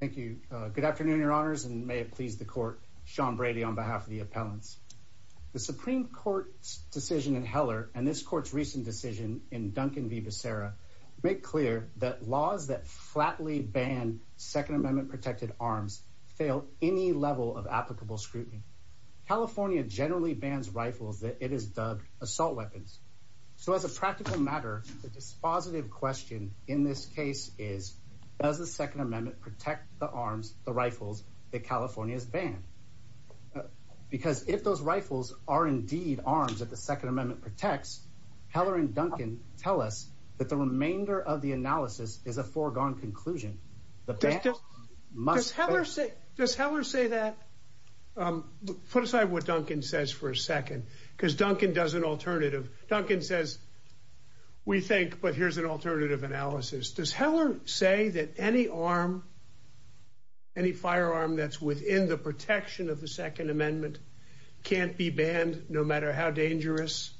Good afternoon, Your Honors, and may it please the Court, Sean Brady on behalf of the Appellants. The Supreme Court's decision in Heller and this Court's recent decision in Duncan v. Becerra make clear that laws that flatly ban Second Amendment-protected arms fail any level of applicable scrutiny. California generally bans rifles that it has dubbed assault weapons. So as a practical matter, the dispositive question in this case is, does the Second Amendment protect the arms, the rifles, that California has banned? Because if those rifles are indeed arms that the Second Amendment protects, Heller and Duncan tell us that the remainder of the analysis is a foregone conclusion. Does Heller say that? Put aside what Duncan says for a second, because Duncan does an alternative. Duncan says, we think, but here's an alternative analysis. Does Heller say that any arm, any firearm that's within the protection of the Second Amendment can't be banned, no matter how dangerous?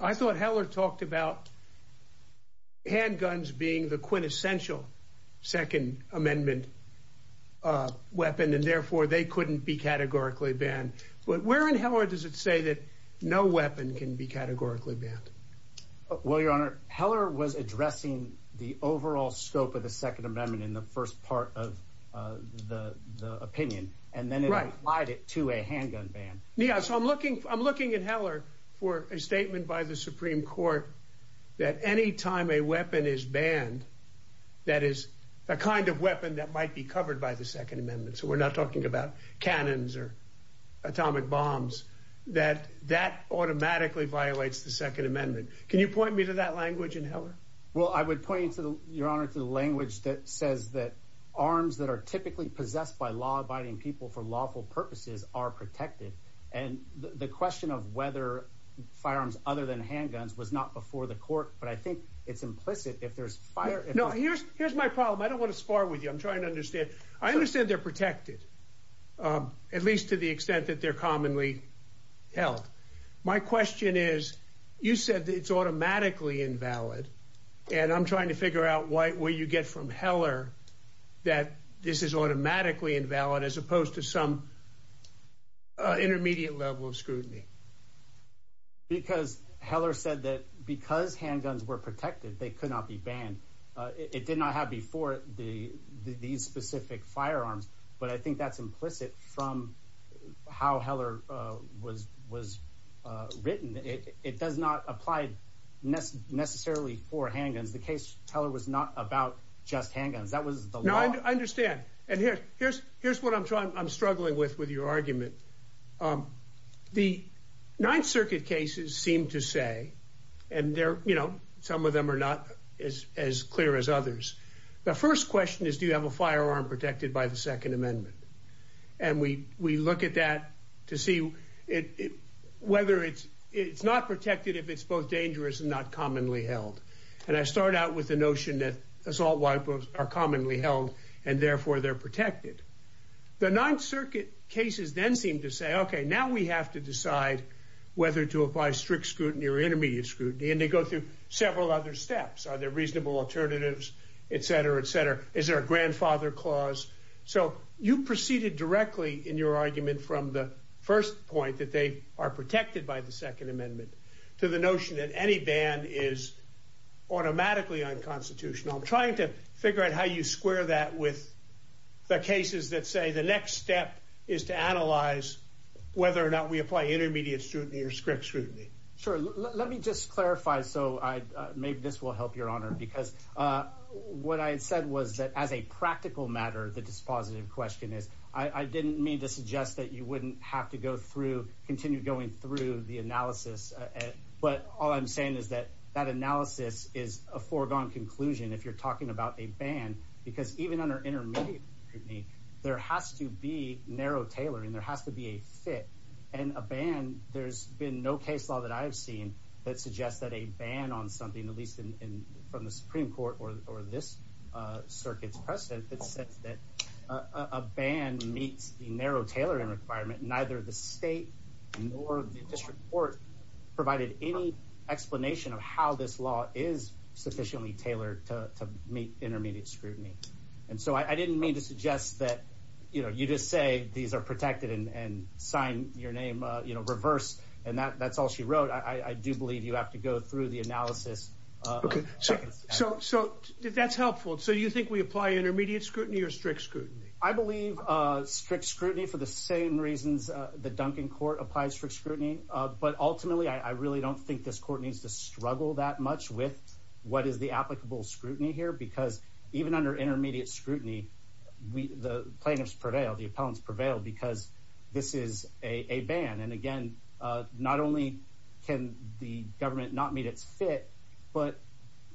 I thought Heller talked about handguns being the quintessential Second Amendment weapon, and therefore they couldn't be categorically banned. But where in Heller does it say that no weapon can be categorically banned? Well, Your Honor, Heller was addressing the overall scope of the Second Amendment in the first part of the opinion, and then it applied it to a handgun ban. Yeah, so I'm looking, I'm looking at Heller for a statement by the Supreme Court that any time a weapon is banned, that is a kind of weapon that might be covered by the Second Amendment. So we're not talking about cannons or atomic bombs, that that automatically violates the Second Amendment. Can you point me to that language in Heller? Well, I would point you, Your Honor, to the language that says that arms that are typically possessed by law abiding people for lawful purposes are protected. And the question of whether firearms other than handguns was not before the court. But I think it's implicit if there's fire. No, here's here's my problem. I don't want to spar with you. I'm trying to understand. I understand they're protected, at least to the extent that they're commonly held. My question is, you said it's automatically invalid. And I'm trying to figure out why you get from Heller that this is automatically invalid as opposed to some intermediate level of scrutiny. Because Heller said that because handguns were protected, they could not be banned. It did not have before the these specific firearms. But I think that's implicit from how Heller was was written. It does not apply necessarily for handguns. The case teller was not about just handguns. That was the law. I understand. And here's here's what I'm trying. I'm struggling with with your argument. The Ninth Circuit cases seem to say, and they're, you know, some of them are not as as clear as others. The first question is, do you have a firearm protected by the Second Amendment? And we we look at that to see it whether it's it's not protected if it's both dangerous and not commonly held. And I start out with the notion that assault wipers are commonly held and therefore they're protected. The Ninth Circuit cases then seem to say, OK, now we have to decide whether to apply strict scrutiny or intermediate scrutiny. And they go through several other steps. Are there reasonable alternatives, et cetera, et cetera? Is there a grandfather clause? So you proceeded directly in your argument from the first point that they are protected by the Second Amendment to the notion that any ban is automatically unconstitutional. Trying to figure out how you square that with the cases that say the next step is to analyze whether or not we apply intermediate scrutiny or strict scrutiny. Sure. Let me just clarify. So maybe this will help your honor. Because what I said was that as a practical matter, the dispositive question is I didn't mean to suggest that you wouldn't have to go through, continue going through the analysis. But all I'm saying is that that analysis is a foregone conclusion if you're talking about a ban, because even under intermediate scrutiny, there has to be narrow tailoring. There has to be a fit and a ban. There's been no case law that I've seen that suggests that a ban on something, at least from the Supreme Court or this circuit's precedent, that a ban meets the narrow tailoring requirement. Neither the state nor the district court provided any explanation of how this law is sufficiently tailored to meet intermediate scrutiny. And so I didn't mean to suggest that, you know, you just say these are protected and sign your name, you know, reverse. And that's all she wrote. I do believe you have to go through the analysis. OK, so so that's helpful. So you think we apply intermediate scrutiny or strict scrutiny? I believe strict scrutiny for the same reasons the Duncan court applies for scrutiny. But ultimately, I really don't think this court needs to struggle that much with what is the applicable scrutiny here, because even under intermediate scrutiny, the plaintiffs prevail, the appellants prevail because this is a ban. And again, not only can the government not meet its fit, but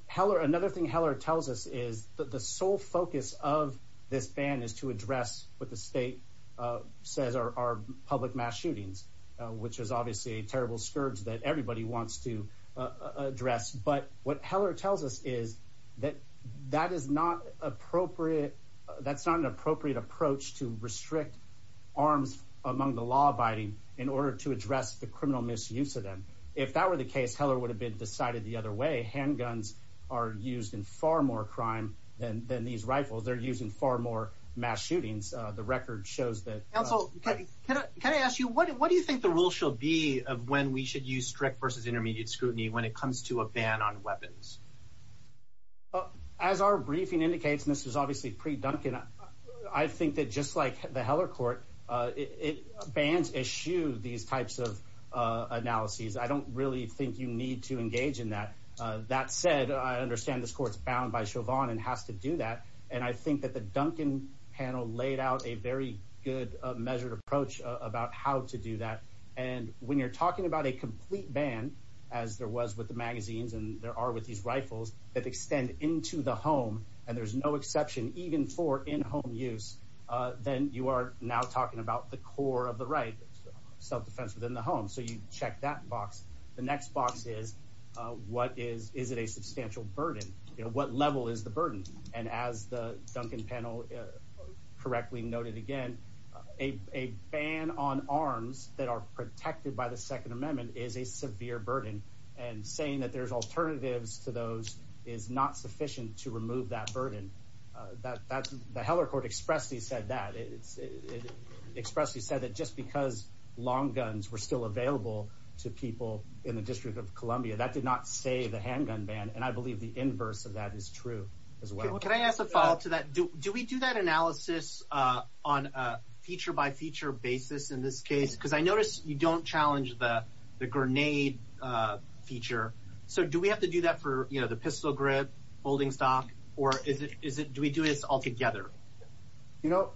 Heller, another thing Heller tells us is that the sole focus of this ban is to address what the state says are public mass shootings, which is obviously a terrible scourge that everybody wants to address. But what Heller tells us is that that is not appropriate. That's not an appropriate approach to restrict arms among the law abiding in order to address the criminal misuse of them. If that were the case, Heller would have been decided the other way. Handguns are used in far more crime than than these rifles. They're using far more mass shootings. The record shows that. Counsel, can I ask you, what do you think the rule shall be of when we should use strict versus intermediate scrutiny when it comes to a ban on weapons? As our briefing indicates, and this is obviously pre-Duncan, I think that just like the Heller court, it bans eschew these types of analyses. I don't really think you need to engage in that. That said, I understand this court's bound by Chauvin and has to do that. And I think that the Duncan panel laid out a very good measured approach about how to do that. And when you're talking about a complete ban, as there was with the magazines and there are with these rifles that extend into the home, and there's no exception even for in-home use, then you are now talking about the core of the right self-defense within the home. So you check that box. The next box is what is is it a substantial burden? What level is the burden? And as the Duncan panel correctly noted, again, a ban on arms that are protected by the Second Amendment is a severe burden and saying that there's alternatives to those is not sufficient to remove that burden. That that's the Heller court expressly said that it's expressly said that just because long guns were still available to people in the District of Columbia, that did not say the handgun ban. And I believe the inverse of that is true as well. Can I ask a follow up to that? Do we do that analysis on a feature by feature basis in this case? Because I notice you don't challenge the the grenade feature. So do we have to do that for, you know, the pistol grip holding stock or is it is it do we do this altogether? You know,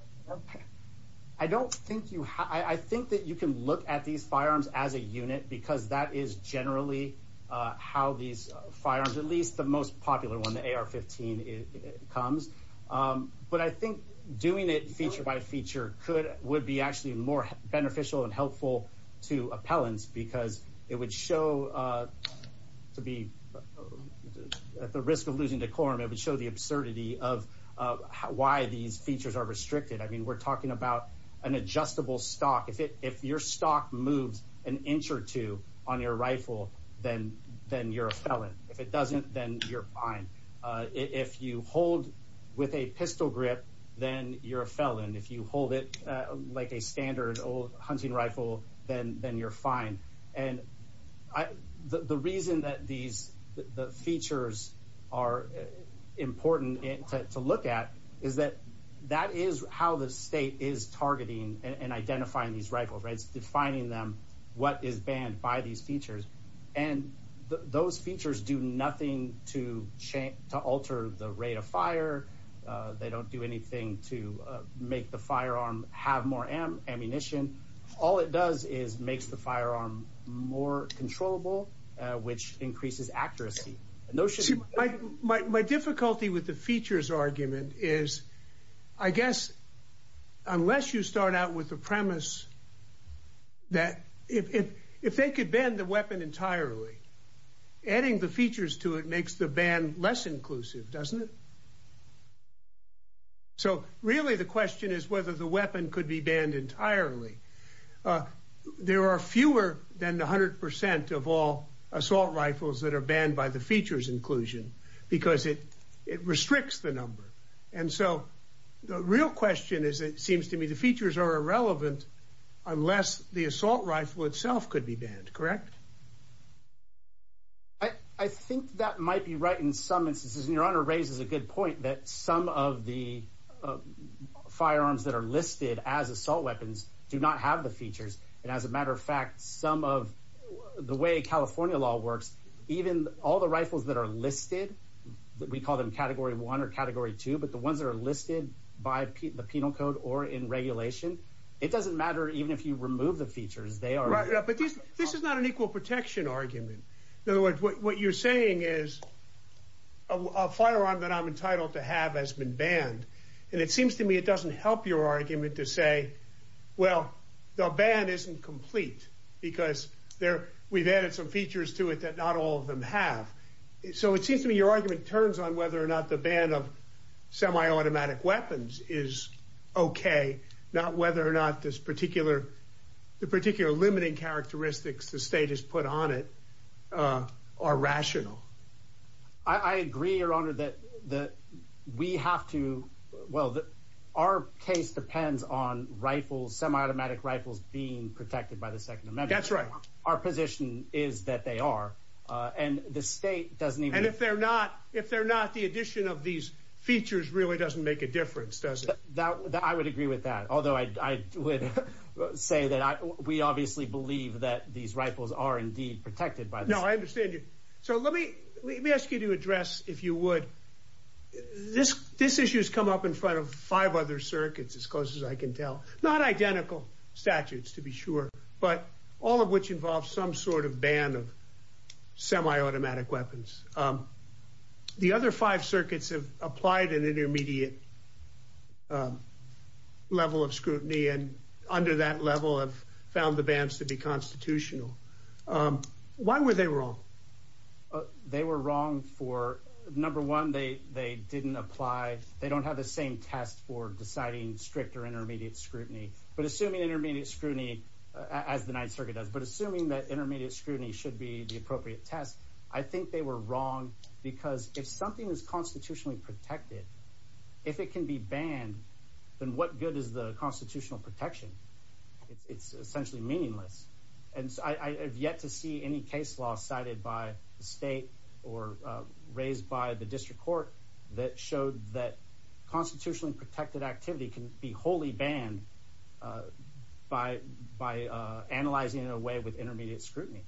I don't think you I think that you can look at these firearms as a unit, because that is generally how these firearms, at least the most popular one, the AR-15 comes. But I think doing it feature by feature could would be actually more beneficial and helpful to appellants, because it would show to be at the risk of losing decorum. It would show the absurdity of why these features are restricted. I mean, we're talking about an adjustable stock. If it if your stock moves an inch or two on your rifle, then then you're a felon. If it doesn't, then you're fine. If you hold with a pistol grip, then you're a felon. If you hold it like a standard old hunting rifle, then then you're fine. And the reason that these the features are important to look at is that that is how the state is targeting and identifying these rifles, right, defining them, what is banned by these features. And those features do nothing to change to alter the rate of fire. They don't do anything to make the firearm have more ammunition. All it does is makes the firearm more controllable, which increases accuracy. A notion like my difficulty with the features argument is, I guess, unless you start out with the premise. That if if they could bend the weapon entirely, adding the features to it makes the ban less inclusive, doesn't it? So really, the question is whether the weapon could be banned entirely. There are fewer than 100 percent of all assault rifles that are banned by the features inclusion because it it restricts the number. And so the real question is, it seems to me the features are irrelevant unless the assault rifle itself could be banned. Correct. I think that might be right in some instances, and your honor raises a good point that some of the firearms that are listed as assault weapons do not have the features. And as a matter of fact, some of the way California law works, even all the rifles that are listed, we call them category one or category two, but the ones that are listed by the penal code or in regulation, it doesn't matter even if you remove the features, they are. But this is not an equal protection argument. In other words, what you're saying is a firearm that I'm entitled to have has been banned. And it seems to me it doesn't help your argument to say, well, the ban isn't complete because there we've added some features to it that not all of them have. So it seems to me your argument turns on whether or not the ban of semi-automatic weapons is OK, not whether or not this particular the particular limiting characteristics the state has put on it are rational. I agree, your honor, that that we have to. Well, our case depends on rifles, semi-automatic rifles being protected by the Second Amendment. That's right. Our position is that they are. And the state doesn't even if they're not if they're not, the addition of these features really doesn't make a difference, does it? Now that I would agree with that, although I would say that we obviously believe that these rifles are indeed protected by. No, I understand you. So let me let me ask you to address, if you would. This this issue has come up in front of five other circuits as close as I can tell, not identical statutes, to be sure, but all of which involve some sort of ban of semi-automatic weapons. The other five circuits have applied an intermediate level of scrutiny and under that level have found the bans to be constitutional. Why were they wrong? They were wrong for number one, they they didn't apply. They don't have the same test for deciding stricter intermediate scrutiny. But assuming intermediate scrutiny as the Ninth Circuit does, but assuming that intermediate scrutiny should be the appropriate test, I think they were wrong because if something is constitutionally protected, if it can be banned, then what good is the constitutional protection? It's essentially meaningless. And I have yet to see any case law cited by the state or raised by the district court that showed that constitutionally protected activity can be wholly banned. By by analyzing in a way with intermediate scrutiny,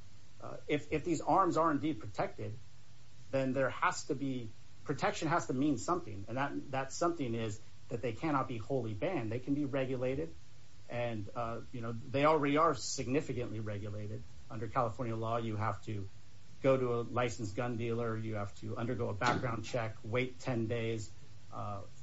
if these arms are indeed protected, then there has to be protection, has to mean something. And that that's something is that they cannot be wholly banned. They can be regulated and they already are significantly regulated. Under California law, you have to go to a licensed gun dealer, you have to undergo a background check, wait 10 days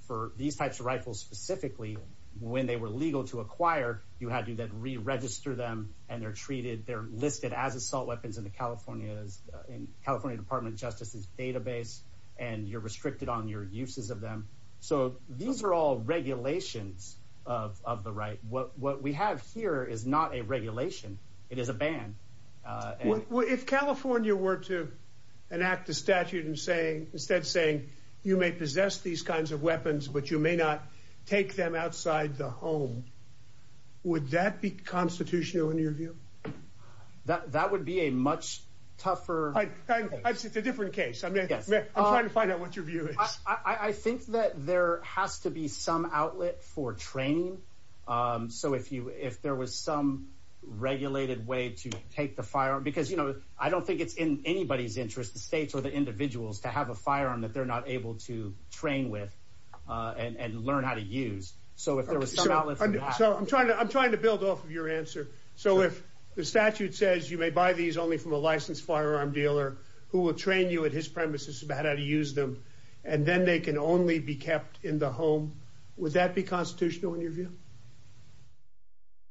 for these types of rifles, specifically when they were legal to acquire. You had to then re-register them and they're treated. They're listed as assault weapons in the California's in California Department of Justice's database and you're restricted on your uses of them. So these are all regulations of the right. What what we have here is not a regulation. It is a ban. If California were to enact a statute and say instead of saying you may possess these kinds of weapons, but you may not take them outside the home. Would that be constitutional in your view? That that would be a much tougher. I think it's a different case. I mean, I'm trying to find out what your view is. I think that there has to be some outlet for training. So if you if there was some regulated way to take the firearm, because, you know, I don't think it's in anybody's interest, the states or the individuals to have a firearm that they're not able to train with and learn how to use. So if there was some outlet. So I'm trying to I'm trying to build off of your answer. So if the statute says you may buy these only from a licensed firearm dealer who will train you at his premises about how to use them and then they can only be kept in the home, would that be constitutional in your view?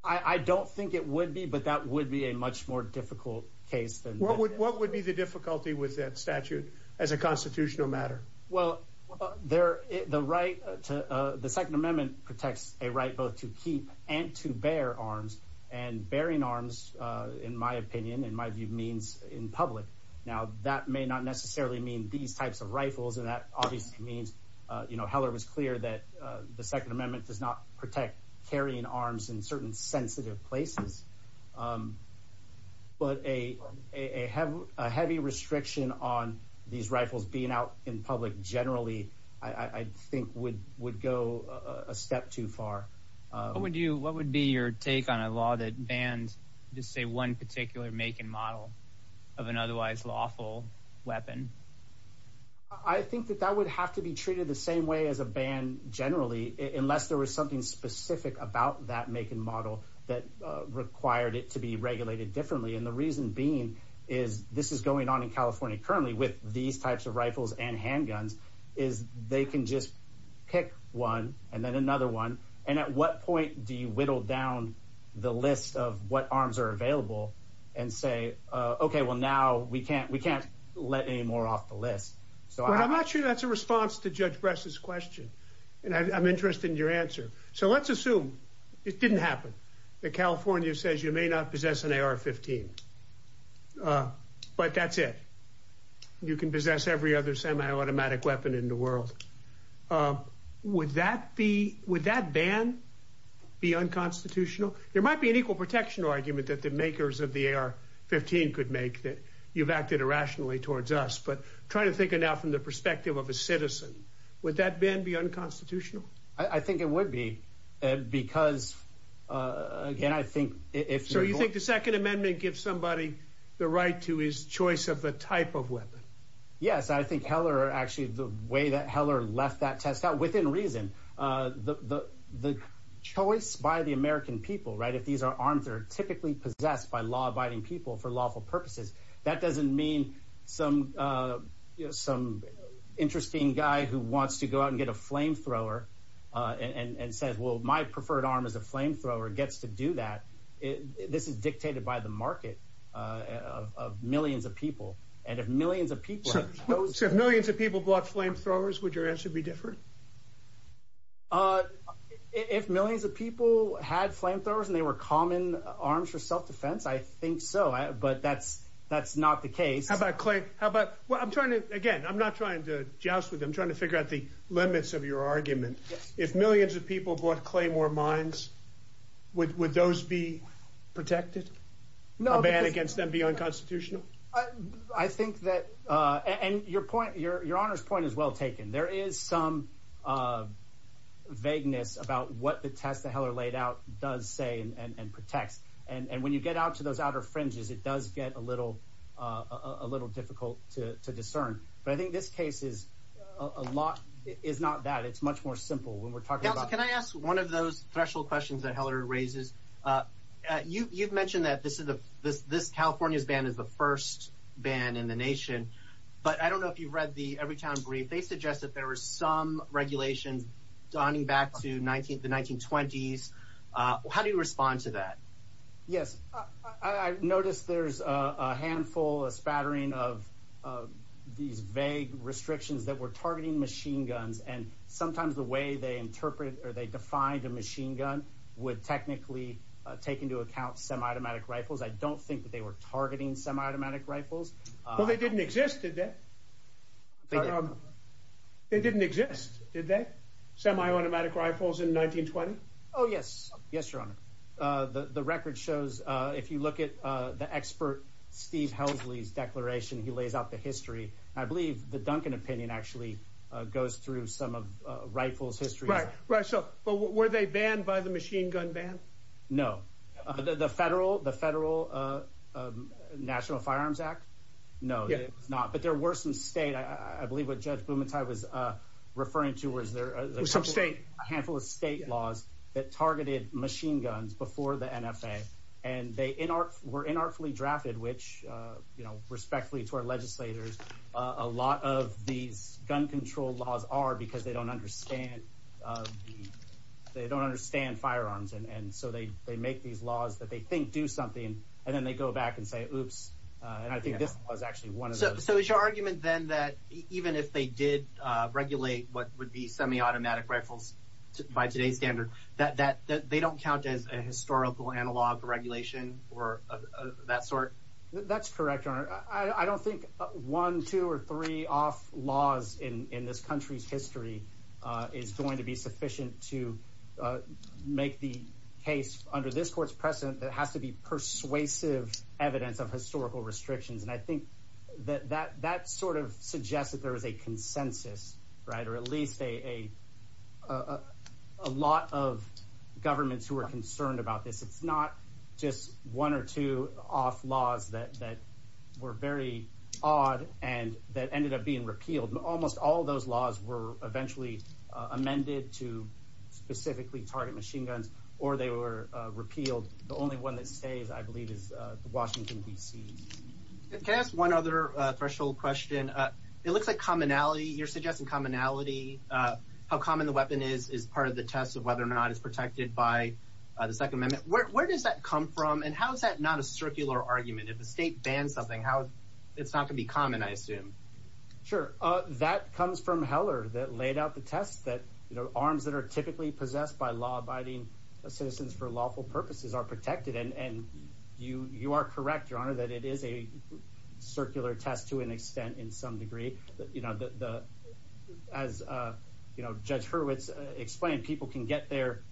I don't think it would be, but that would be a much more difficult case than what would what would be the difficulty with that statute as a constitutional matter? Well, there the right to the Second Amendment protects a right both to keep and to bear arms and bearing arms, in my opinion, in my view, means in public. Now, that may not necessarily mean these types of rifles. And that obviously means, you know, Heller was clear that the Second Amendment does not protect carrying arms in certain sensitive places. But a have a heavy restriction on these rifles being out in public generally, I think, would would go a step too far. Would you what would be your take on a law that bans, just say one particular make and model of an otherwise lawful weapon? I think that that would have to be treated the same way as a ban generally, unless there was something specific about that make and model that required it to be regulated differently. And the reason being is this is going on in California currently with these types of rifles and handguns is they can just pick one and then another one. And at what point do you whittle down the list of what arms are available and say, OK, well, now we can't we can't let any more off the list. So I'm not sure that's a response to Judge Bress's question. And I'm interested in your answer. So let's assume it didn't happen. The California says you may not possess an AR-15, but that's it. You can possess every other semiautomatic weapon in the world. Would that be would that ban be unconstitutional? There might be an equal protection argument that the makers of the AR-15 could make that you've acted irrationally towards us. But trying to think it out from the perspective of a citizen, would that ban be unconstitutional? I think it would be because, again, I think if so, you think the Second Amendment gives somebody the right to his choice of the type of weapon? Yes, I think Heller actually the way that Heller left that test out within reason, the the choice by the American people. Right. If these are arms are typically possessed by law abiding people for lawful purposes, that doesn't mean some some interesting guy who wants to go out and get a flamethrower. And says, well, my preferred arm is a flamethrower, gets to do that. This is dictated by the market of millions of people. And if millions of people, if millions of people bought flamethrowers, would your answer be different? If millions of people had flamethrowers and they were common arms for self-defense, I think so. But that's that's not the case. How about Clay? How about what I'm trying to again, I'm not trying to joust with them, trying to figure out the limits of your argument. If millions of people bought Claymore mines, would those be protected? No, bad against them, be unconstitutional. I think that and your point, your your honor's point is well taken. There is some vagueness about what the test that Heller laid out does say and protects. And when you get out to those outer fringes, it does get a little a little difficult to discern. But I think this case is a lot is not that. It's much more simple when we're talking about. Can I ask one of those threshold questions that Heller raises? You've mentioned that this is the this this California's ban is the first ban in the nation. But I don't know if you've read the Everytown Brief. They suggest that there were some regulations donning back to 19th, the 1920s. How do you respond to that? Yes, I noticed there's a handful of spattering of these vague restrictions that were targeting machine guns. And sometimes the way they interpret or they defined a machine gun would technically take into account some automatic rifles. I don't think that they were targeting some automatic rifles. Well, they didn't exist, did they? They didn't exist, did they? Semi-automatic rifles in 1920. Oh, yes. Yes, your honor. The record shows if you look at the expert, Steve Hellsley's declaration, he lays out the history. I believe the Duncan opinion actually goes through some of rifles history. Right. Right. So were they banned by the machine gun ban? No. The federal the federal National Firearms Act. No, it's not. But there were some state, I believe what Judge Bumatai was referring to was there some state, a handful of state laws that targeted machine guns before the NFA. And they were inartfully drafted, which, you know, respectfully to our legislators, a lot of these gun control laws are because they don't understand. They don't understand firearms. And so they they make these laws that they think do something. And then they go back and say, oops. And I think this was actually one of those. So is your argument then that even if they did regulate what would be semi-automatic rifles by today's standard, that that they don't count as a historical analog regulation or of that sort? That's correct. I don't think one, two or three off laws in this country's history is going to be sufficient to make the case under this court's precedent that has to be persuasive evidence of historical restrictions. And I think that that that sort of suggests that there is a consensus, right, or at least a lot of governments who are concerned about this. It's not just one or two off laws that that were very odd and that ended up being repealed. Almost all of those laws were eventually amended to specifically target machine guns or they were repealed. The only one that stays, I believe, is Washington, D.C. Can I ask one other threshold question? It looks like commonality. You're suggesting commonality. How common the weapon is, is part of the test of whether or not it's protected by the Second Amendment. Where does that come from and how is that not a circular argument? If the state bans something, how it's not going to be common, I assume. Sure. That comes from Heller that laid out the test that arms that are typically possessed by law abiding citizens for lawful purposes are protected. And you you are correct, your honor, that it is a circular test to an extent in some degree. You know, as Judge Hurwitz explained, people can get there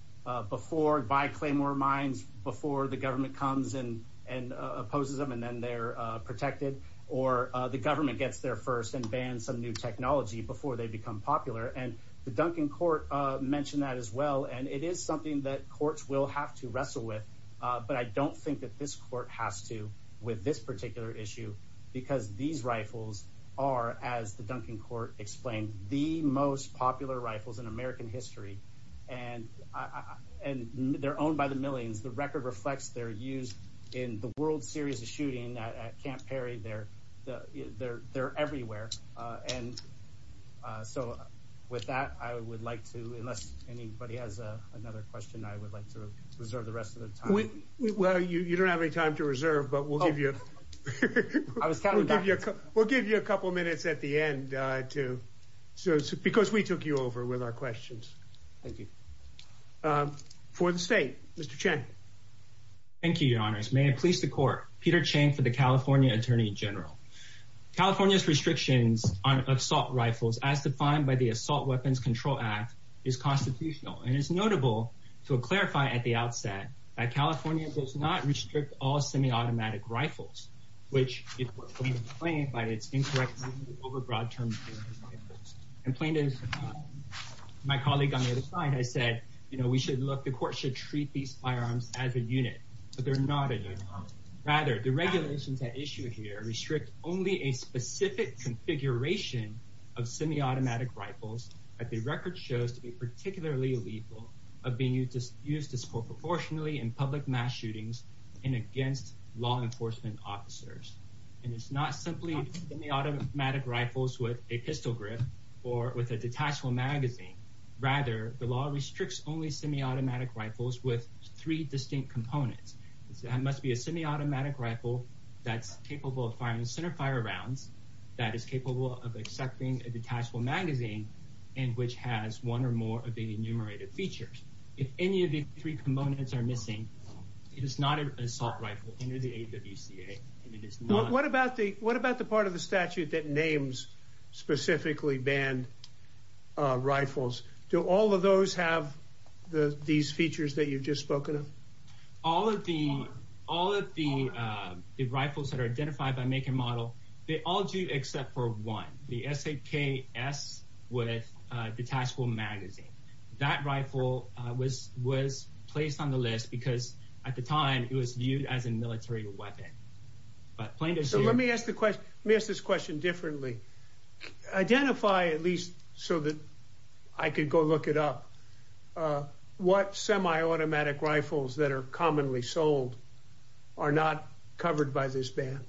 before by Claymore mines, before the government comes in and opposes them and then they're protected. Or the government gets there first and bans some new technology before they become popular. And the Duncan court mentioned that as well. And it is something that courts will have to wrestle with. But I don't think that this court has to with this particular issue, because these rifles are, as the Duncan court explained, the most popular rifles in American history. And and they're owned by the millions. The record reflects their use in the World Series of shooting at Camp Perry. They're there. They're everywhere. And so with that, I would like to unless anybody has another question, I would like to reserve the rest of the time. Well, you don't have any time to reserve, but we'll give you I was telling you, we'll give you a couple of minutes at the end, too, because we took you over with our questions. Thank you for the state, Mr. Thank you, your honors. May I please the court, Peter Chang for the California attorney general, California's restrictions on assault rifles as defined by the Assault Weapons Control Act is constitutional and is notable to clarify at the outset that California does not restrict all semiautomatic rifles, which is claimed by its incorrect overbroad term. And plaintiff, my colleague on the other side, I said, you know, we should look, the court should treat these firearms as a unit, but they're not. Rather, the regulations that issue here restrict only a specific configuration of semiautomatic rifles. At the record shows to be particularly lethal of being used to use disproportionately in public mass shootings and against law enforcement officers. And it's not simply the automatic rifles with a pistol grip or with a detachable magazine. Rather, the law restricts only semiautomatic rifles with three distinct components. That must be a semiautomatic rifle that's capable of firing centerfire rounds, that is capable of accepting a detachable magazine and which has one or more of the enumerated features. If any of the three components are missing, it is not an assault rifle under the AWCA. What about the what about the part of the statute that names specifically banned rifles? Do all of those have these features that you've just spoken of? All of the all of the the rifles that are identified by make and model, they all do, except for one, the S.A.K.S. with detachable magazine. That rifle was was placed on the list because at the time it was viewed as a military weapon. But let me ask the question, this question differently, identify at least so that I could go look it up, what semiautomatic rifles that are commonly sold are not covered by this ban?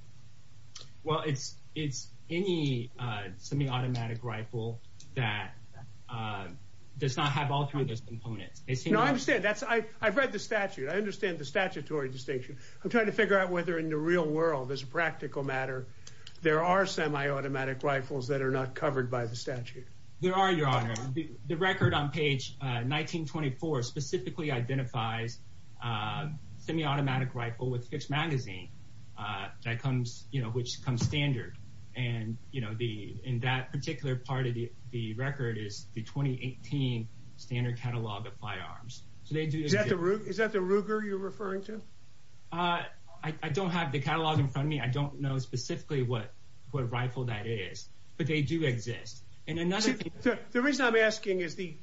Well, it's it's any semiautomatic rifle that does not have all three of those components. I understand that. I've read the statute. I understand the statutory distinction. I'm trying to figure out whether in the real world, as a practical matter, there are semiautomatic rifles that are not covered by the statute. There are, Your Honor. The record on page 1924 specifically identifies semiautomatic rifle with fixed magazine that comes, you know, which comes standard. And, you know, the in that particular part of the record is the 2018 standard catalog of firearms. So they do. Is that the Ruger you're referring to? I don't have the catalog in front of me. I don't know specifically what what rifle that is, but they do exist. And another thing. The reason I'm asking is the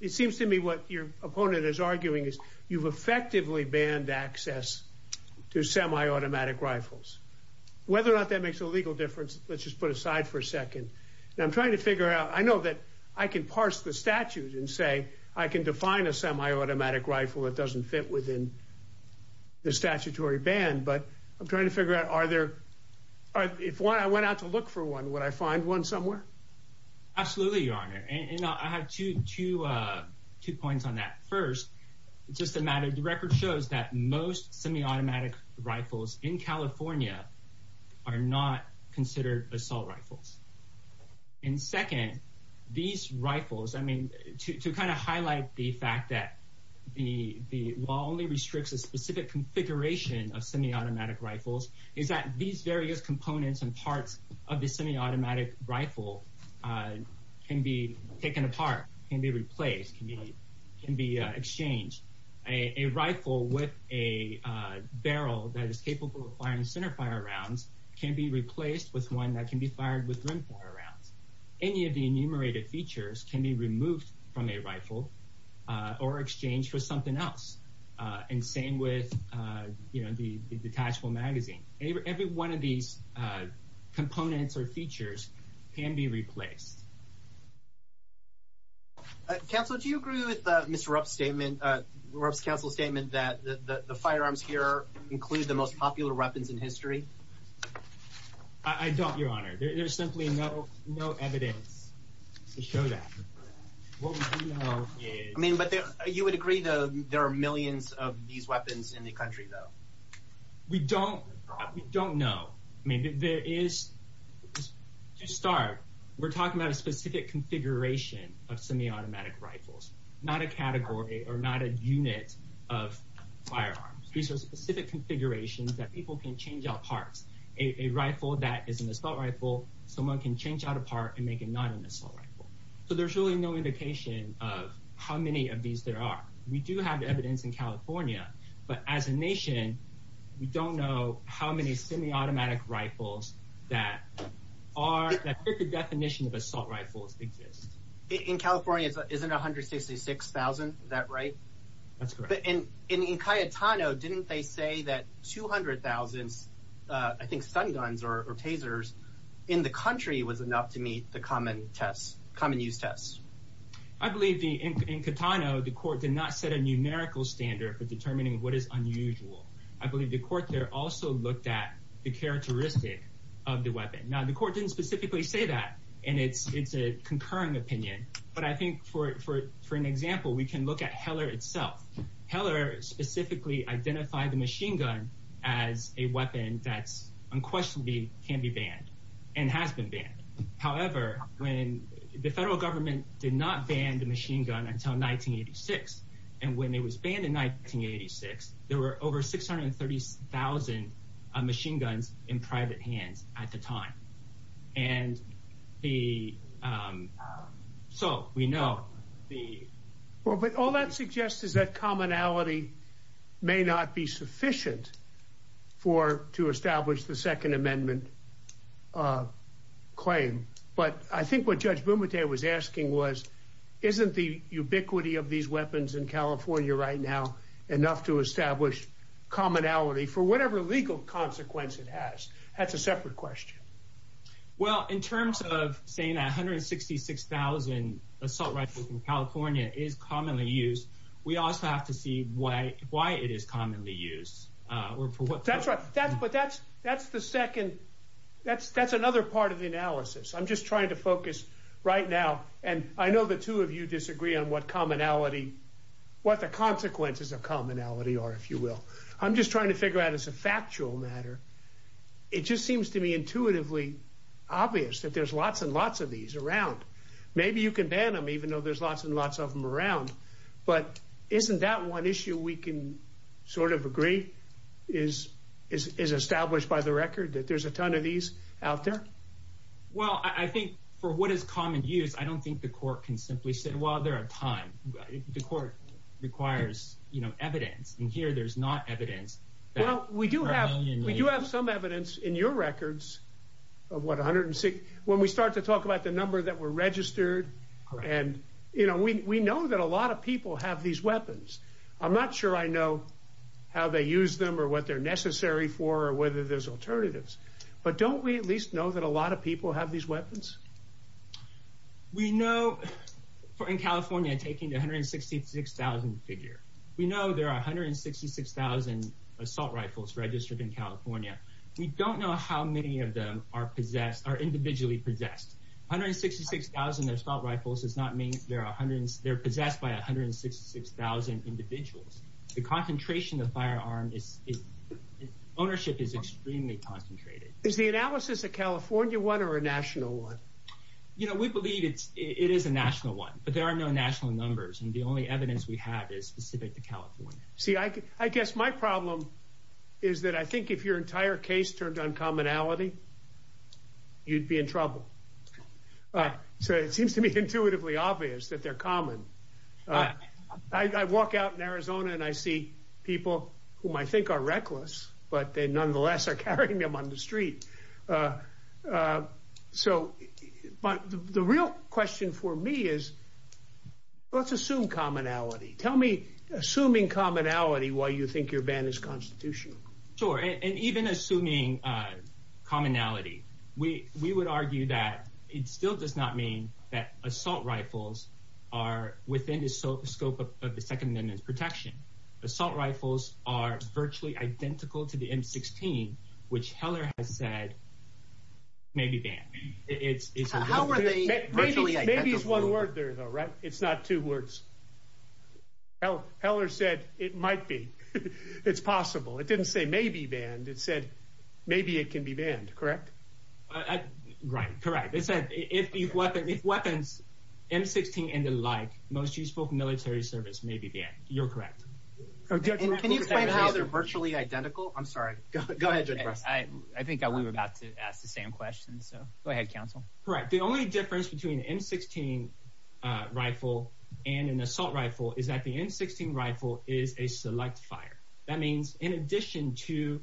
it seems to me what your opponent is arguing is you've effectively banned access to semiautomatic rifles. Whether or not that makes a legal difference. Let's just put aside for a second. Now, I'm trying to figure out. I know that I can parse the statute and say I can define a semiautomatic rifle. It doesn't fit within the statutory ban. But I'm trying to figure out, are there if I went out to look for one, would I find one somewhere? Absolutely, Your Honor. And I have to to two points on that first. It's just a matter of the record shows that most semiautomatic rifles in California are not considered assault rifles. And second, these rifles, I mean, to kind of highlight the fact that the law only restricts a specific configuration of semiautomatic rifles is that these various components and parts of the semiautomatic rifle can be taken apart, can be replaced, can be exchanged. A rifle with a barrel that is capable of firing centerfire rounds can be replaced with one that can be fired with rimfire rounds. Any of the enumerated features can be removed from a rifle or exchanged for something else. And same with the detachable magazine. Every one of these components or features can be replaced. Counsel, do you agree with Mr. Rupp's statement, Rupp's counsel's statement that the firearms here include the most popular weapons in history? I don't, Your Honor. There's simply no evidence to show that. What we do know is... I mean, but you would agree, though, there are millions of these weapons in the country, though. We don't. We don't know. I mean, there is, to start, we're talking about a specific configuration of semiautomatic rifles, not a category or not a unit of firearms. These are specific configurations that people can change out parts. A rifle that is an assault rifle, someone can change out a part and make it not an assault rifle. So there's really no indication of how many of these there are. We do have evidence in California, but as a nation, we don't know how many semiautomatic rifles that fit the definition of assault rifles exist. In California, isn't it 166,000, is that right? That's correct. In Cayetano, didn't they say that 200,000, I think, stun guns or tasers in the country was enough to meet the common test, common use test? I believe in Cayetano, the court did not set a numerical standard for determining what is unusual. I believe the court there also looked at the characteristic of the weapon. Now, the court didn't specifically say that, and it's a concurring opinion, but I think for an example, we can look at Heller itself. Heller specifically identified the machine gun as a weapon that's unquestionably can be banned and has been banned. However, when the federal government did not ban the machine gun until 1986, and when it was banned in 1986, there were over 630,000 machine guns in private hands at the time. And so we know the... But I think what Judge Bumuteh was asking was, isn't the ubiquity of these weapons in California right now enough to establish commonality for whatever legal consequence it has? That's a separate question. Well, in terms of saying that 166,000 assault rifles in California is commonly used, we also have to see why it is commonly used. That's right. But that's another part of the analysis. I'm just trying to focus right now, and I know the two of you disagree on what the consequences of commonality are, if you will. I'm just trying to figure out as a factual matter. It just seems to me intuitively obvious that there's lots and lots of these around. Maybe you can ban them, even though there's lots and lots of them around. But isn't that one issue we can sort of agree? Is it established by the record that there's a ton of these out there? Well, I think for what is common use, I don't think the court can simply say, well, there are a ton. The court requires evidence. And here there's not evidence. Well, we do have some evidence in your records of what 160, when we start to talk about the number that were registered. And we know that a lot of people have these weapons. I'm not sure I know how they use them or what they're necessary for or whether there's alternatives. But don't we at least know that a lot of people have these weapons? We know in California, taking the 166,000 figure, we know there are 166,000 assault rifles registered in California. We don't know how many of them are possessed, are individually possessed. 166,000 assault rifles does not mean there are hundreds. They're possessed by 166,000 individuals. The concentration of firearm ownership is extremely concentrated. Is the analysis a California one or a national one? You know, we believe it is a national one, but there are no national numbers. And the only evidence we have is specific to California. See, I guess my problem is that I think if your entire case turned on commonality, you'd be in trouble. All right. So it seems to be intuitively obvious that they're common. I walk out in Arizona and I see people whom I think are reckless, but they nonetheless are carrying them on the street. So the real question for me is, let's assume commonality. Tell me, assuming commonality, why you think your ban is constitutional. Sure. And even assuming commonality, we we would argue that it still does not mean that assault rifles are within the scope of the Second Amendment's protection. Assault rifles are virtually identical to the M-16, which Heller has said may be banned. It's how are they? Maybe it's one word there, though, right? It's not two words. Heller said it might be. It's possible. It didn't say maybe banned. It said maybe it can be banned. Correct? Right. Correct. It said if weapons, M-16 and the like, most useful military service may be banned. You're correct. Can you explain how they're virtually identical? I'm sorry. Go ahead, Judge Preston. I think we were about to ask the same question. So go ahead, counsel. Right. The only difference between an M-16 rifle and an assault rifle is that the M-16 rifle is a select fire. That means in addition to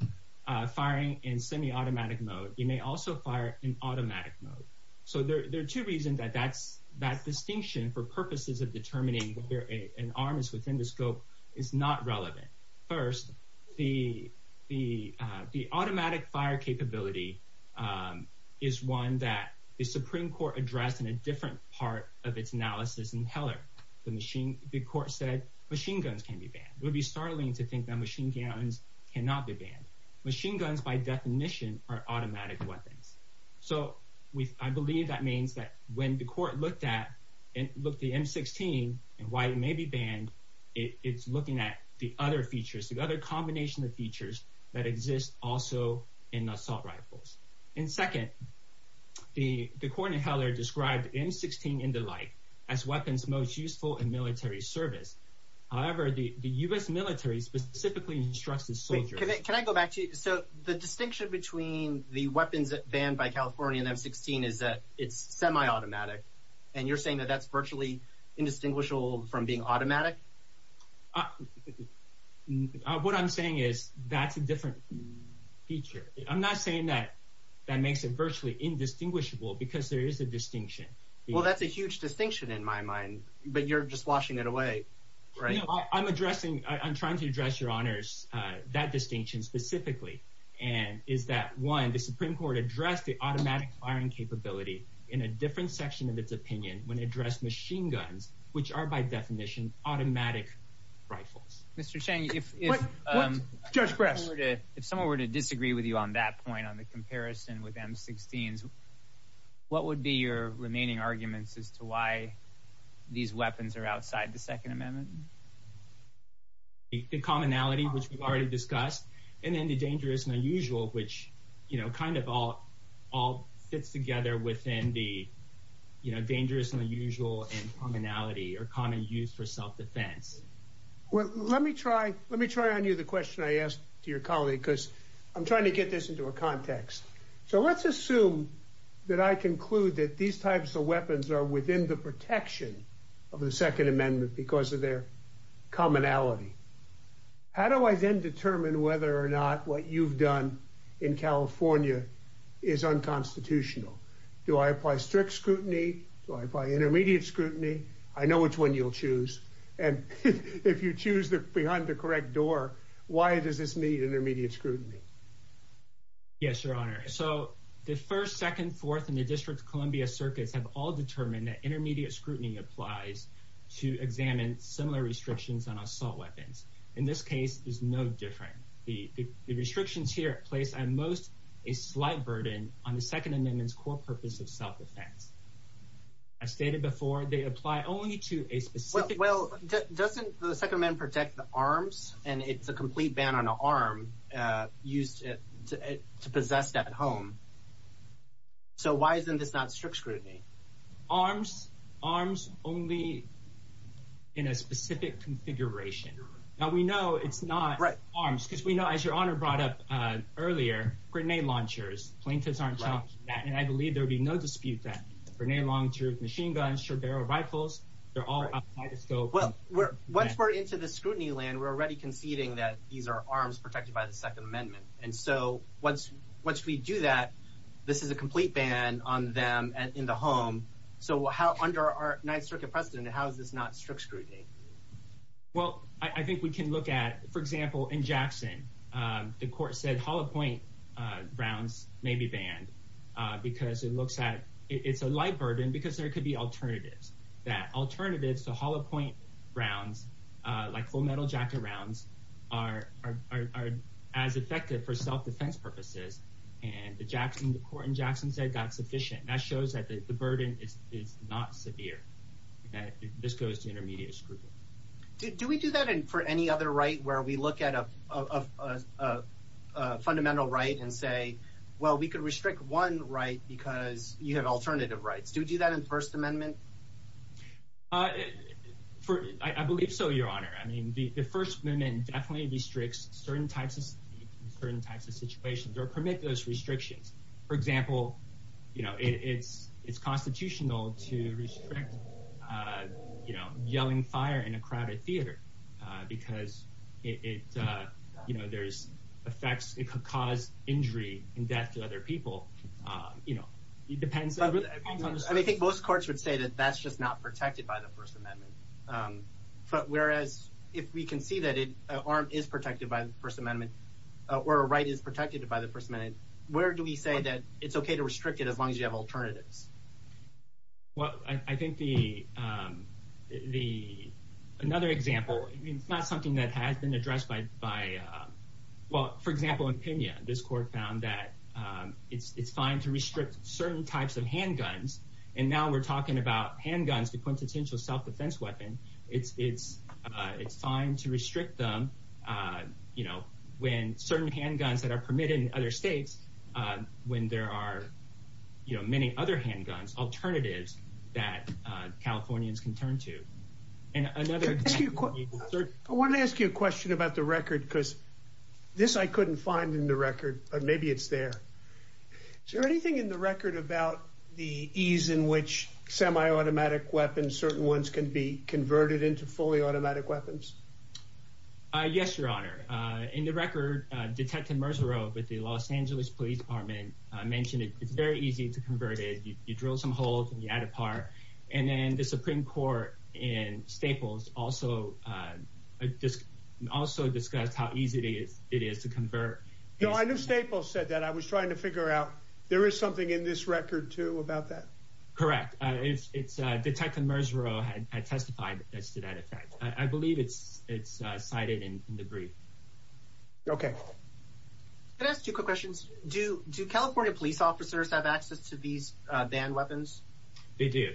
firing in semi-automatic mode, you may also fire in automatic mode. So there are two reasons that that's that distinction for purposes of determining whether an arm is within the scope is not relevant. First, the automatic fire capability is one that the Supreme Court addressed in a different part of its analysis in Heller. The court said machine guns can be banned. It would be startling to think that machine guns cannot be banned. Machine guns, by definition, are automatic weapons. So I believe that means that when the court looked at the M-16 and why it may be banned, it's looking at the other features, the other combination of features that exist also in assault rifles. And second, the court in Heller described M-16 and the like as weapons most useful in military service. However, the U.S. military specifically instructs the soldier. Can I go back to you? So the distinction between the weapons banned by California and M-16 is that it's semi-automatic. And you're saying that that's virtually indistinguishable from being automatic. What I'm saying is that's a different feature. I'm not saying that that makes it virtually indistinguishable because there is a distinction. Well, that's a huge distinction in my mind. But you're just washing it away. Right. I'm addressing. I'm trying to address, Your Honors, that distinction specifically. And is that, one, the Supreme Court addressed the automatic firing capability in a different section of its opinion when it addressed machine guns, which are, by definition, automatic rifles. Mr. Cheng, if someone were to disagree with you on that point, on the comparison with M-16s, what would be your remaining arguments as to why these weapons are outside the Second Amendment? The commonality, which we've already discussed, and then the dangerous and unusual, which, you know, kind of all fits together within the, you know, dangerous and unusual and commonality or common use for self-defense. Well, let me try. Let me try on you the question I asked to your colleague, because I'm trying to get this into a context. So let's assume that I conclude that these types of weapons are within the protection of the Second Amendment because of their commonality. How do I then determine whether or not what you've done in California is unconstitutional? Do I apply strict scrutiny? Do I apply intermediate scrutiny? I know which one you'll choose. And if you choose behind the correct door, why does this need intermediate scrutiny? Yes, Your Honor. So the 1st, 2nd, 4th, and the District of Columbia circuits have all determined that intermediate scrutiny applies to examine similar restrictions on assault weapons. In this case, there's no difference. The restrictions here place at most a slight burden on the Second Amendment's core purpose of self-defense. As stated before, they apply only to a specific. Well, doesn't the Second Amendment protect the arms? And it's a complete ban on an arm used to possess that at home. So why isn't this not strict scrutiny? Arms, arms only in a specific configuration. Now, we know it's not arms because we know, as Your Honor brought up earlier, grenade launchers. Plaintiffs aren't challenging that, and I believe there'll be no dispute that grenade launchers, machine guns, short barrel rifles, they're all outside the scope. Well, once we're into the scrutiny land, we're already conceding that these are arms protected by the Second Amendment. And so once we do that, this is a complete ban on them in the home. So under our Ninth Circuit precedent, how is this not strict scrutiny? Well, I think we can look at, for example, in Jackson, the court said hollow point rounds may be banned because it looks at it's a light burden because there could be alternatives. That alternatives to hollow point rounds, like full metal jacket rounds, are as effective for self-defense purposes. And the court in Jackson said that's sufficient. That shows that the burden is not severe, that this goes to intermediate scrutiny. Do we do that for any other right where we look at a fundamental right and say, well, we could restrict one right because you have alternative rights? Do we do that in the First Amendment? I believe so, Your Honor. I mean, the First Amendment definitely restricts certain types of certain types of situations or permit those restrictions. For example, you know, it's it's constitutional to restrict, you know, yelling fire in a crowded theater because it, you know, there's effects. It could cause injury and death to other people. You know, it depends. I think most courts would say that that's just not protected by the First Amendment. But whereas if we can see that an arm is protected by the First Amendment or a right is protected by the First Amendment, where do we say that it's OK to restrict it as long as you have alternatives? Well, I think the the another example, it's not something that has been addressed by by, well, for example, in Pena, this court found that it's fine to restrict certain types of handguns. And now we're talking about handguns, the quintessential self-defense weapon. It's it's it's fine to restrict them. You know, when certain handguns that are permitted in other states, when there are, you know, many other handguns, alternatives that Californians can turn to. And another I want to ask you a question about the record, because this I couldn't find in the record, but maybe it's there. Is there anything in the record about the ease in which semi-automatic weapons, certain ones can be converted into fully automatic weapons? Yes, Your Honor. In the record, Detective Mercer with the Los Angeles Police Department mentioned it. It's very easy to convert it. You drill some holes and you add a part. And then the Supreme Court in Staples also just also discussed how easy it is to convert. You know, I knew Staples said that. I was trying to figure out there is something in this record, too, about that. Correct. It's Detective Mercer had testified as to that effect. I believe it's it's cited in the brief. OK. Can I ask two quick questions? Do do California police officers have access to these banned weapons? They do.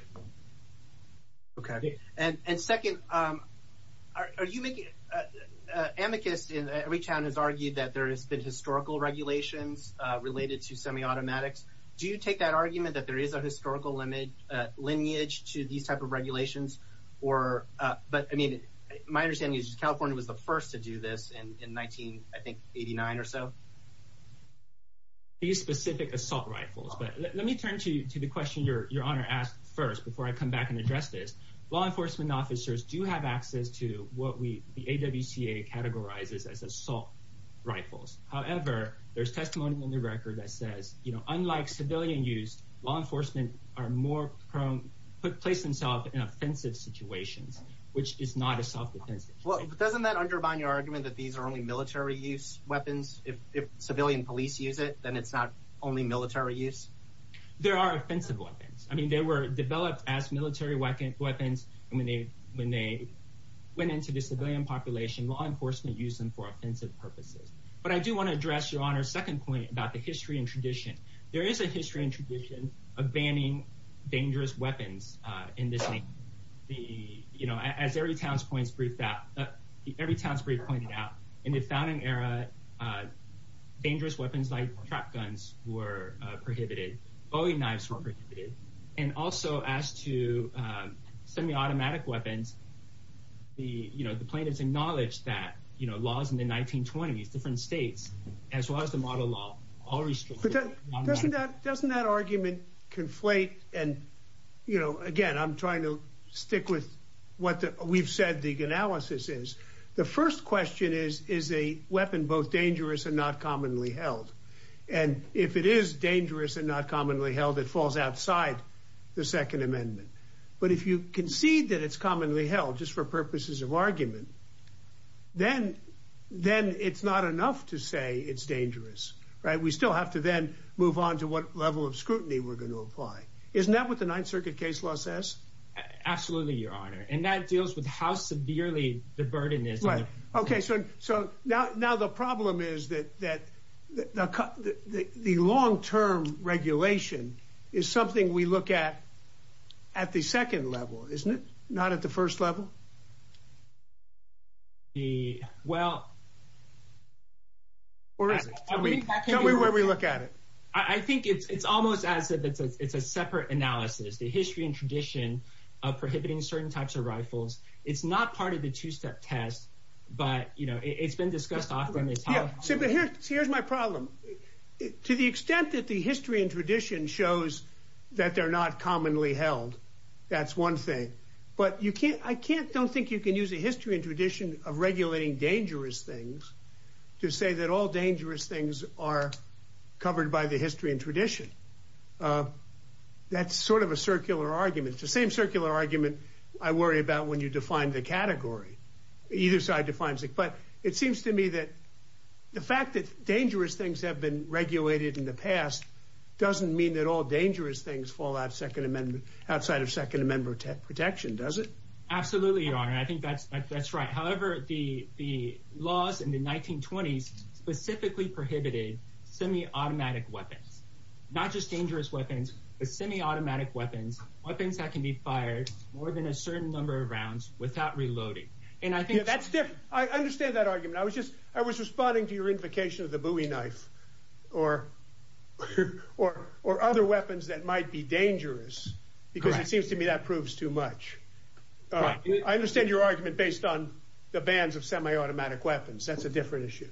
OK, and second, are you making amicus in every town has argued that there has been historical regulations related to semi-automatics. Do you take that argument that there is a historical limit lineage to these type of regulations? Or but I mean, my understanding is California was the first to do this in nineteen, I think, eighty nine or so. These specific assault rifles. But let me turn to the question your honor asked first, before I come back and address this law enforcement officers do have access to what we the AWCA categorizes as assault rifles. However, there's testimony in the record that says, you know, unlike civilian use, law enforcement are more prone to place themselves in offensive situations, which is not a self-defense. Well, doesn't that undermine your argument that these are only military use weapons? If civilian police use it, then it's not only military use. There are offensive weapons. I mean, they were developed as military weapons and when they when they went into the civilian population, law enforcement use them for offensive purposes. But I do want to address your honor's second point about the history and tradition. There is a history and tradition of banning dangerous weapons in this. The you know, as every town's points brief that every town's brief pointed out in the founding era, dangerous weapons like trap guns were prohibited. Bowie knives were prohibited. And also as to semi-automatic weapons, the plaintiffs acknowledged that laws in the 1920s, different states, as well as the model law, all restricted. Doesn't that argument conflate? And, you know, again, I'm trying to stick with what we've said the analysis is. The first question is, is a weapon both dangerous and not commonly held? And if it is dangerous and not commonly held, it falls outside the Second Amendment. But if you concede that it's commonly held just for purposes of argument, then then it's not enough to say it's dangerous. Right. We still have to then move on to what level of scrutiny we're going to apply. Isn't that what the Ninth Circuit case law says? Absolutely, your honor. And that deals with how severely the burden is. OK, so so now now the problem is that that the long term regulation is something we look at at the second level, isn't it? Not at the first level. The well. Where is it? Tell me where we look at it. I think it's almost as if it's a separate analysis, the history and tradition of prohibiting certain types of rifles. It's not part of the two step test, but, you know, it's been discussed often. So here's my problem. To the extent that the history and tradition shows that they're not commonly held. That's one thing. But you can't I can't don't think you can use a history and tradition of regulating dangerous things to say that all dangerous things are covered by the history and tradition. That's sort of a circular argument, the same circular argument I worry about when you define the category. Either side defines it. But it seems to me that the fact that dangerous things have been regulated in the past doesn't mean that all dangerous things fall out of Second Amendment outside of Second Amendment protection, does it? Absolutely, your honor. I think that's that's right. However, the the laws in the 1920s specifically prohibited semiautomatic weapons, not just dangerous weapons, but semiautomatic weapons, weapons that can be fired more than a certain number of rounds without reloading. And I think that's different. I understand that argument. I was just I was responding to your invocation of the Bowie knife or or or other weapons that might be dangerous because it seems to me that proves too much. I understand your argument based on the bans of semiautomatic weapons. That's a different issue.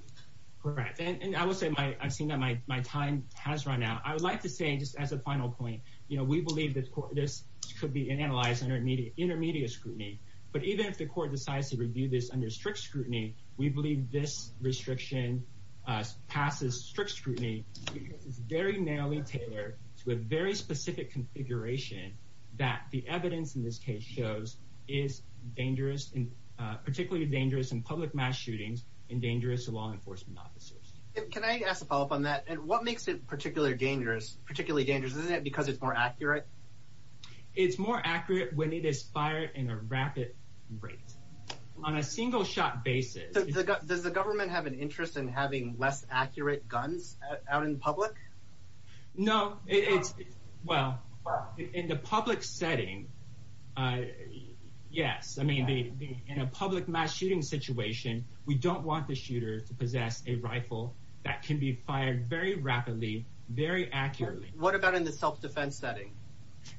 Correct. And I would say I've seen that my my time has run out. I would like to say just as a final point, you know, we believe that this could be an analyzed intermediate intermediate scrutiny. But even if the court decides to review this under strict scrutiny, we believe this restriction passes strict scrutiny. It's very narrowly tailored to a very specific configuration that the evidence in this case shows is dangerous and particularly dangerous in public mass shootings and dangerous to law enforcement officers. Can I ask a follow up on that? And what makes it particularly dangerous, particularly dangerous? Isn't it because it's more accurate? It's more accurate when it is fired in a rapid rate on a single shot basis. Does the government have an interest in having less accurate guns out in public? No, it's well, in the public setting. Yes. I mean, in a public mass shooting situation, we don't want the shooter to possess a rifle that can be fired very rapidly, very accurately. What about in the self-defense setting?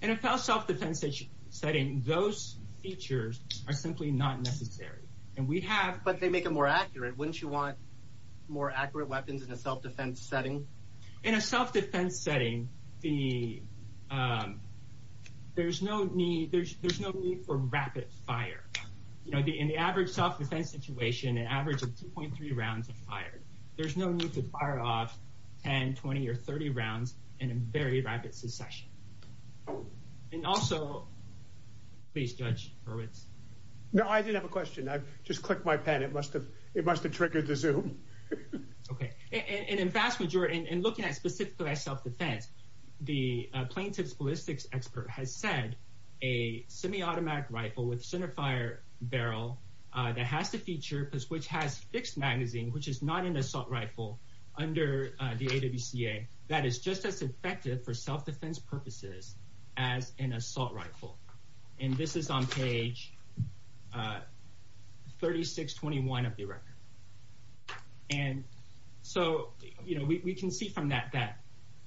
In a self-defense setting, those features are simply not necessary. And we have. But they make it more accurate. Wouldn't you want more accurate weapons in a self-defense setting? In a self-defense setting, there's no need for rapid fire. In the average self-defense situation, an average of 2.3 rounds of fire. There's no need to fire off 10, 20 or 30 rounds in a very rapid succession. And also, please, Judge Hurwitz. No, I didn't have a question. I just clicked my pen. It must have. It must have triggered the zoom. OK. And in fact, what you're looking at specifically as self-defense, the plaintiff's ballistics expert has said a semi-automatic rifle with centerfire barrel that has to feature, which has fixed magazine, which is not an assault rifle under the AWCA, that is just as effective for self-defense purposes as an assault rifle. And this is on page 3621 of the record. And so, you know, we can see from that that,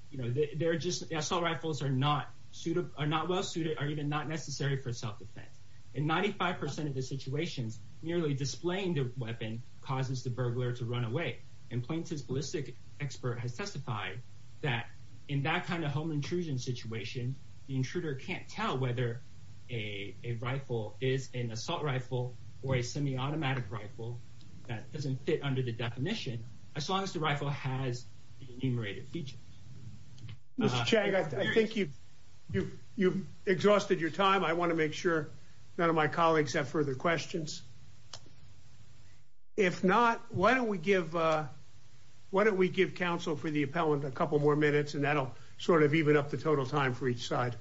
you know, they're just assault rifles are not well suited or even not necessary for self-defense. In 95 percent of the situations, merely displaying the weapon causes the burglar to run away. And plaintiff's ballistics expert has testified that in that kind of home intrusion situation, the intruder can't tell whether a rifle is an assault rifle or a semi-automatic rifle that doesn't fit under the definition as long as the rifle has an enumerated feature. Mr. Chang, I think you've exhausted your time. I want to make sure none of my colleagues have further questions. If not, why don't we give, why don't we give counsel for the appellant a couple more minutes and that'll sort of even up the total time for each side.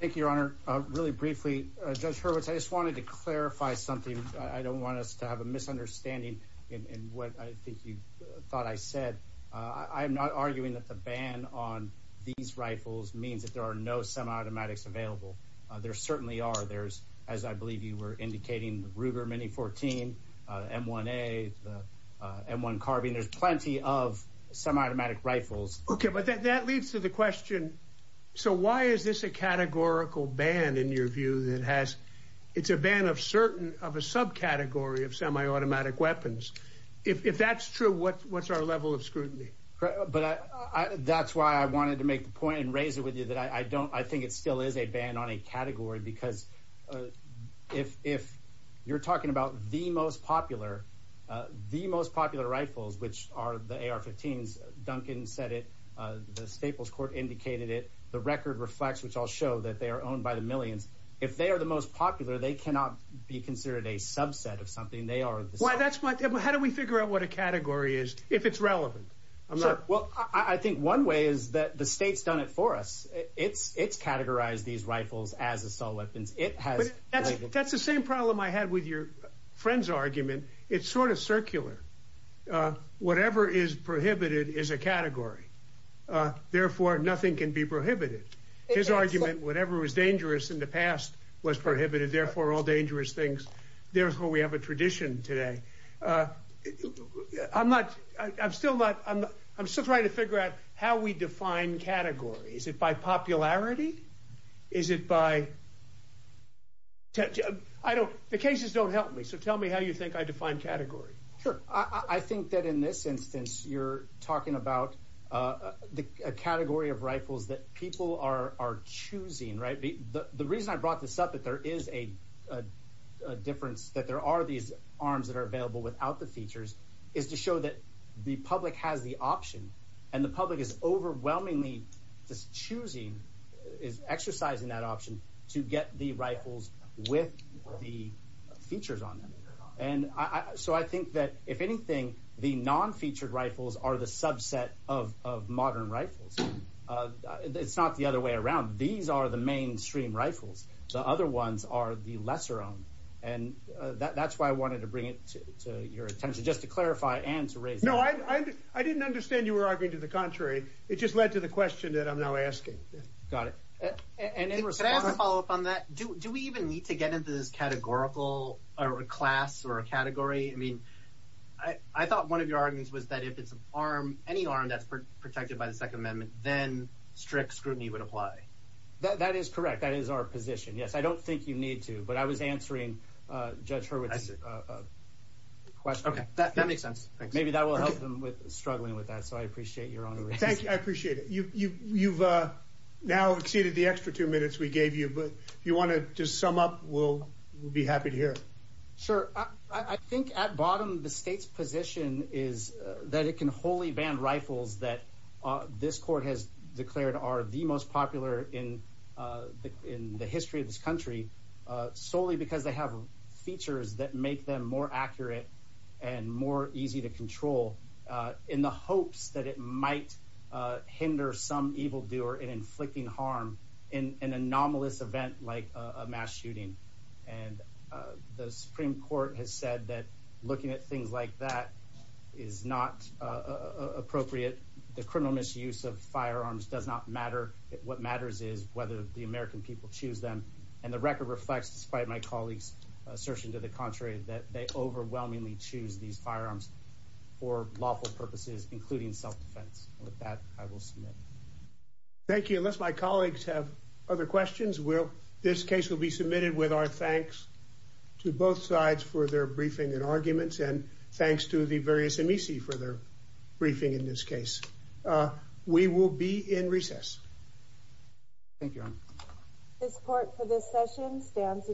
Thank you, Your Honor. Really briefly, Judge Hurwitz, I just wanted to clarify something. I don't want us to have a misunderstanding in what I think you thought I said. I'm not arguing that the ban on these rifles means that there are no semi-automatics available. There certainly are. There's, as I believe you were indicating, the Ruger Mini-14, M1A, the M1 Carbine. There's plenty of semi-automatic rifles. OK, but that leads to the question, so why is this a categorical ban, in your view, that has, it's a ban of certain, of a subcategory of semi-automatic weapons? If that's true, what's our level of scrutiny? But that's why I wanted to make the point and raise it with you that I don't, I think it still is a ban on a category, because if you're talking about the most popular, the most popular rifles, which are the AR-15s, Duncan said it, the Staples Court indicated it, the record reflects, which I'll show, that they are owned by the millions. If they are the most popular, they cannot be considered a subset of something. They are, that's why, how do we figure out what a category is, if it's relevant? Well, I think one way is that the state's done it for us. It's categorized these rifles as assault weapons. It has. That's the same problem I had with your friend's argument. It's sort of circular. Whatever is prohibited is a category. Therefore, nothing can be prohibited. His argument, whatever was dangerous in the past was prohibited, therefore all dangerous things. Therefore, we have a tradition today. I'm not, I'm still not, I'm still trying to figure out how we define categories. Is it by popularity? Is it by, I don't, the cases don't help me, so tell me how you think I define category. Sure. I think that in this instance, you're talking about a category of rifles that people are choosing, right? The reason I brought this up, that there is a difference, that there are these arms that are available without the features, is to show that the public has the option, and the public is overwhelmingly just choosing, is exercising that option to get the rifles with the features on them. And so I think that, if anything, the non-featured rifles are the subset of modern rifles. It's not the other way around. These are the mainstream rifles. The other ones are the lesser-owned. And that's why I wanted to bring it to your attention, just to clarify and to raise... No, I didn't understand you were arguing to the contrary. It just led to the question that I'm now asking. Got it. And in response... Can I have a follow-up on that? Do we even need to get into this categorical, or a class, or a category? I mean, I thought one of your arguments was that if it's an arm, any arm that's protected by the Second Amendment, then strict scrutiny would apply. That is correct. That is our position. Yes, I don't think you need to. But I was answering Judge Hurwitz's question. Okay, that makes sense. Thanks. Maybe that will help them with struggling with that. So I appreciate your honor. Thank you. I appreciate it. You've now exceeded the extra two minutes we gave you. But if you want to just sum up, we'll be happy to hear. Sure. I think, at bottom, the state's position is that it can wholly ban rifles that this court has declared are the most popular in the history of this country solely because they have features that make them more accurate and more easy to control in the hopes that it might hinder some evildoer in inflicting harm in an anomalous event like a mass shooting. And the Supreme Court has said that looking at things like that is not appropriate. The criminal misuse of firearms does not matter. What matters is whether the American people choose them. And the record reflects, despite my colleague's assertion to the contrary, that they overwhelmingly choose these firearms for lawful purposes, including self-defense. With that, I will submit. Thank you. Unless my colleagues have other questions, this case will be submitted with our thanks to both sides for their briefing and arguments. And thanks to the various amici for their briefing in this case. We will be in recess. Thank you, Your Honor. This court for this session stands adjourned.